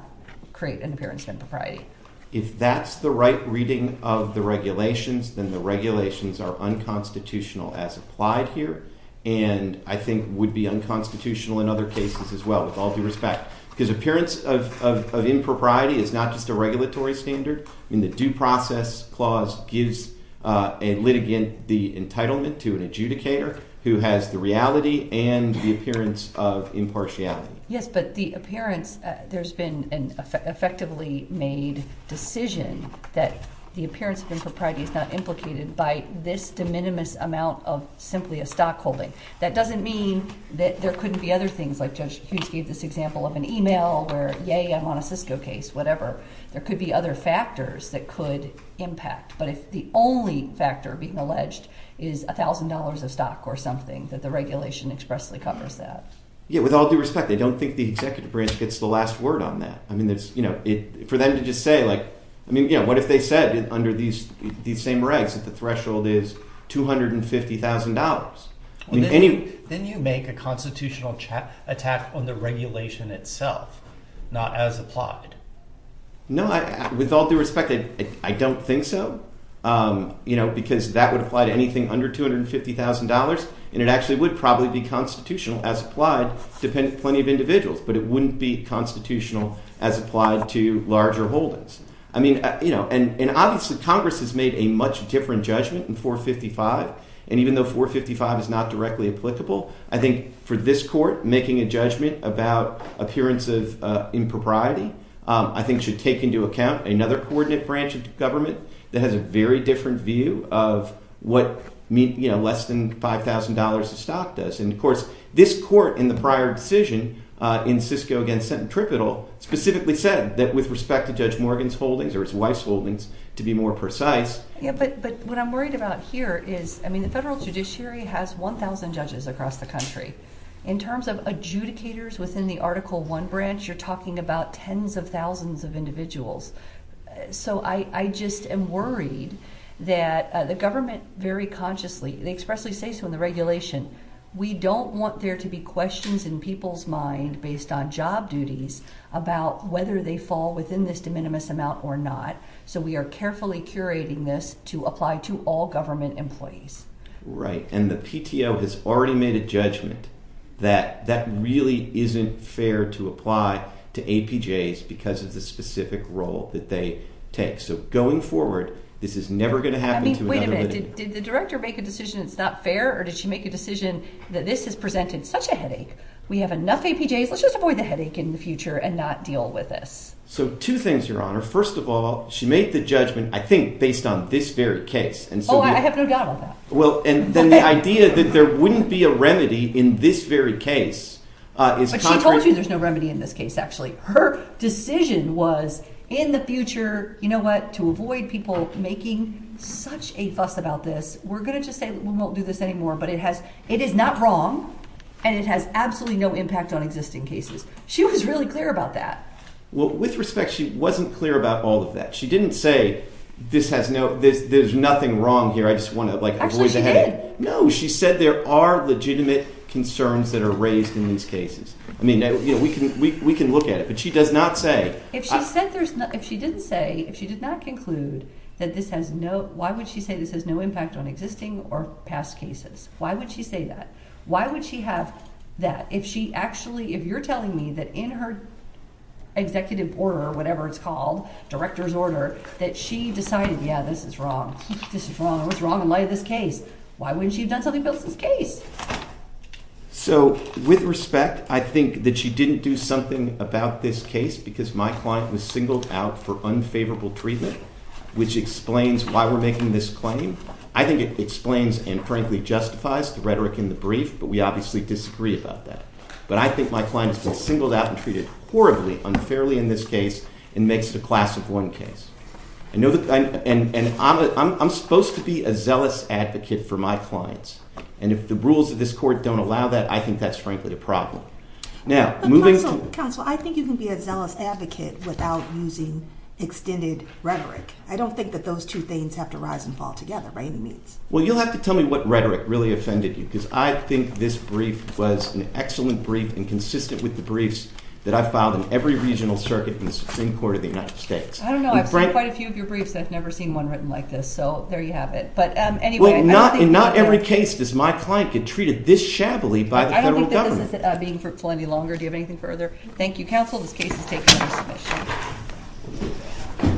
create an appearance of impropriety. If that's the right reading of the regulations, then the regulations are unconstitutional as applied here, and I think would be unconstitutional in other cases as well, with all due respect. Because appearance of impropriety is not just a regulatory standard. I mean, the due process clause gives a litigant the entitlement to an adjudicator who has the reality and the appearance of impartiality. Yes, but the appearance—there's been an effectively made decision that the appearance of impropriety is not implicated by this de minimis amount of simply a stockholding. That doesn't mean that there couldn't be other things like Judge Hughes gave this example of an email where, yay, I'm on a Cisco case, whatever. There could be other factors that could impact. But if the only factor being alleged is $1,000 of stock or something, that the regulation expressly covers that. Yeah, with all due respect, I don't think the executive branch gets the last word on that. I mean, for them to just say like—I mean, what if they said under these same regs that the threshold is $250,000? Then you make a constitutional attack on the regulation itself, not as applied. No, with all due respect, I don't think so because that would apply to anything under $250,000, and it actually would probably be constitutional as applied to plenty of individuals. But it wouldn't be constitutional as applied to larger holdings. I mean—and obviously Congress has made a much different judgment in 455, and even though 455 is not directly applicable, I think for this court, making a judgment about appearance of impropriety I think should take into account another coordinate branch of government that has a very different view of what less than $5,000 of stock does. And, of course, this court in the prior decision in Sisco v. Sentinel specifically said that with respect to Judge Morgan's holdings or his wife's holdings, to be more precise— Yeah, but what I'm worried about here is—I mean, the federal judiciary has 1,000 judges across the country. In terms of adjudicators within the Article I branch, you're talking about tens of thousands of individuals. So I just am worried that the government very consciously—they expressly say so in the regulation. We don't want there to be questions in people's mind based on job duties about whether they fall within this de minimis amount or not, so we are carefully curating this to apply to all government employees. Right, and the PTO has already made a judgment that that really isn't fair to apply to APJs because of the specific role that they take. So going forward, this is never going to happen to another— I mean, wait a minute. Did the director make a decision it's not fair, or did she make a decision that this has presented such a headache? We have enough APJs. Let's just avoid the headache in the future and not deal with this. So two things, Your Honor. First of all, she made the judgment, I think, based on this very case. Oh, I have no doubt about that. Well, and then the idea that there wouldn't be a remedy in this very case is contrary— But she told you there's no remedy in this case, actually. Her decision was in the future, you know what, to avoid people making such a fuss about this. We're going to just say we won't do this anymore, but it has—it is not wrong, and it has absolutely no impact on existing cases. She was really clear about that. Well, with respect, she wasn't clear about all of that. She didn't say this has no—there's nothing wrong here. I just want to, like, avoid the headache. Actually, she did. No, she said there are legitimate concerns that are raised in these cases. I mean, we can look at it, but she does not say— If she said there's—if she didn't say, if she did not conclude that this has no— why would she say this has no impact on existing or past cases? Why would she say that? Why would she have that if she actually— if you're telling me that in her executive order or whatever it's called, director's order, that she decided, yeah, this is wrong, this is wrong, what's wrong in light of this case? Why wouldn't she have done something about this case? So, with respect, I think that she didn't do something about this case because my client was singled out for unfavorable treatment, which explains why we're making this claim. I think it explains and, frankly, justifies the rhetoric in the brief, but we obviously disagree about that. But I think my client has been singled out and treated horribly, unfairly in this case and makes it a class of one case. I know that—and I'm supposed to be a zealous advocate for my clients, and if the rules of this court don't allow that, I think that's, frankly, a problem. Now, moving to— But, counsel, I think you can be a zealous advocate without using extended rhetoric. I don't think that those two things have to rise and fall together by any means. Well, you'll have to tell me what rhetoric really offended you because I think this brief was an excellent brief and consistent with the briefs that I filed in every regional circuit in the Supreme Court of the United States. I don't know. I've seen quite a few of your briefs. I've never seen one written like this, so there you have it. But anyway— Well, in not every case does my client get treated this shabbily by the federal government. I don't think that this is being fruitful any longer. Do you have anything further? Thank you, counsel. This case is taken under submission.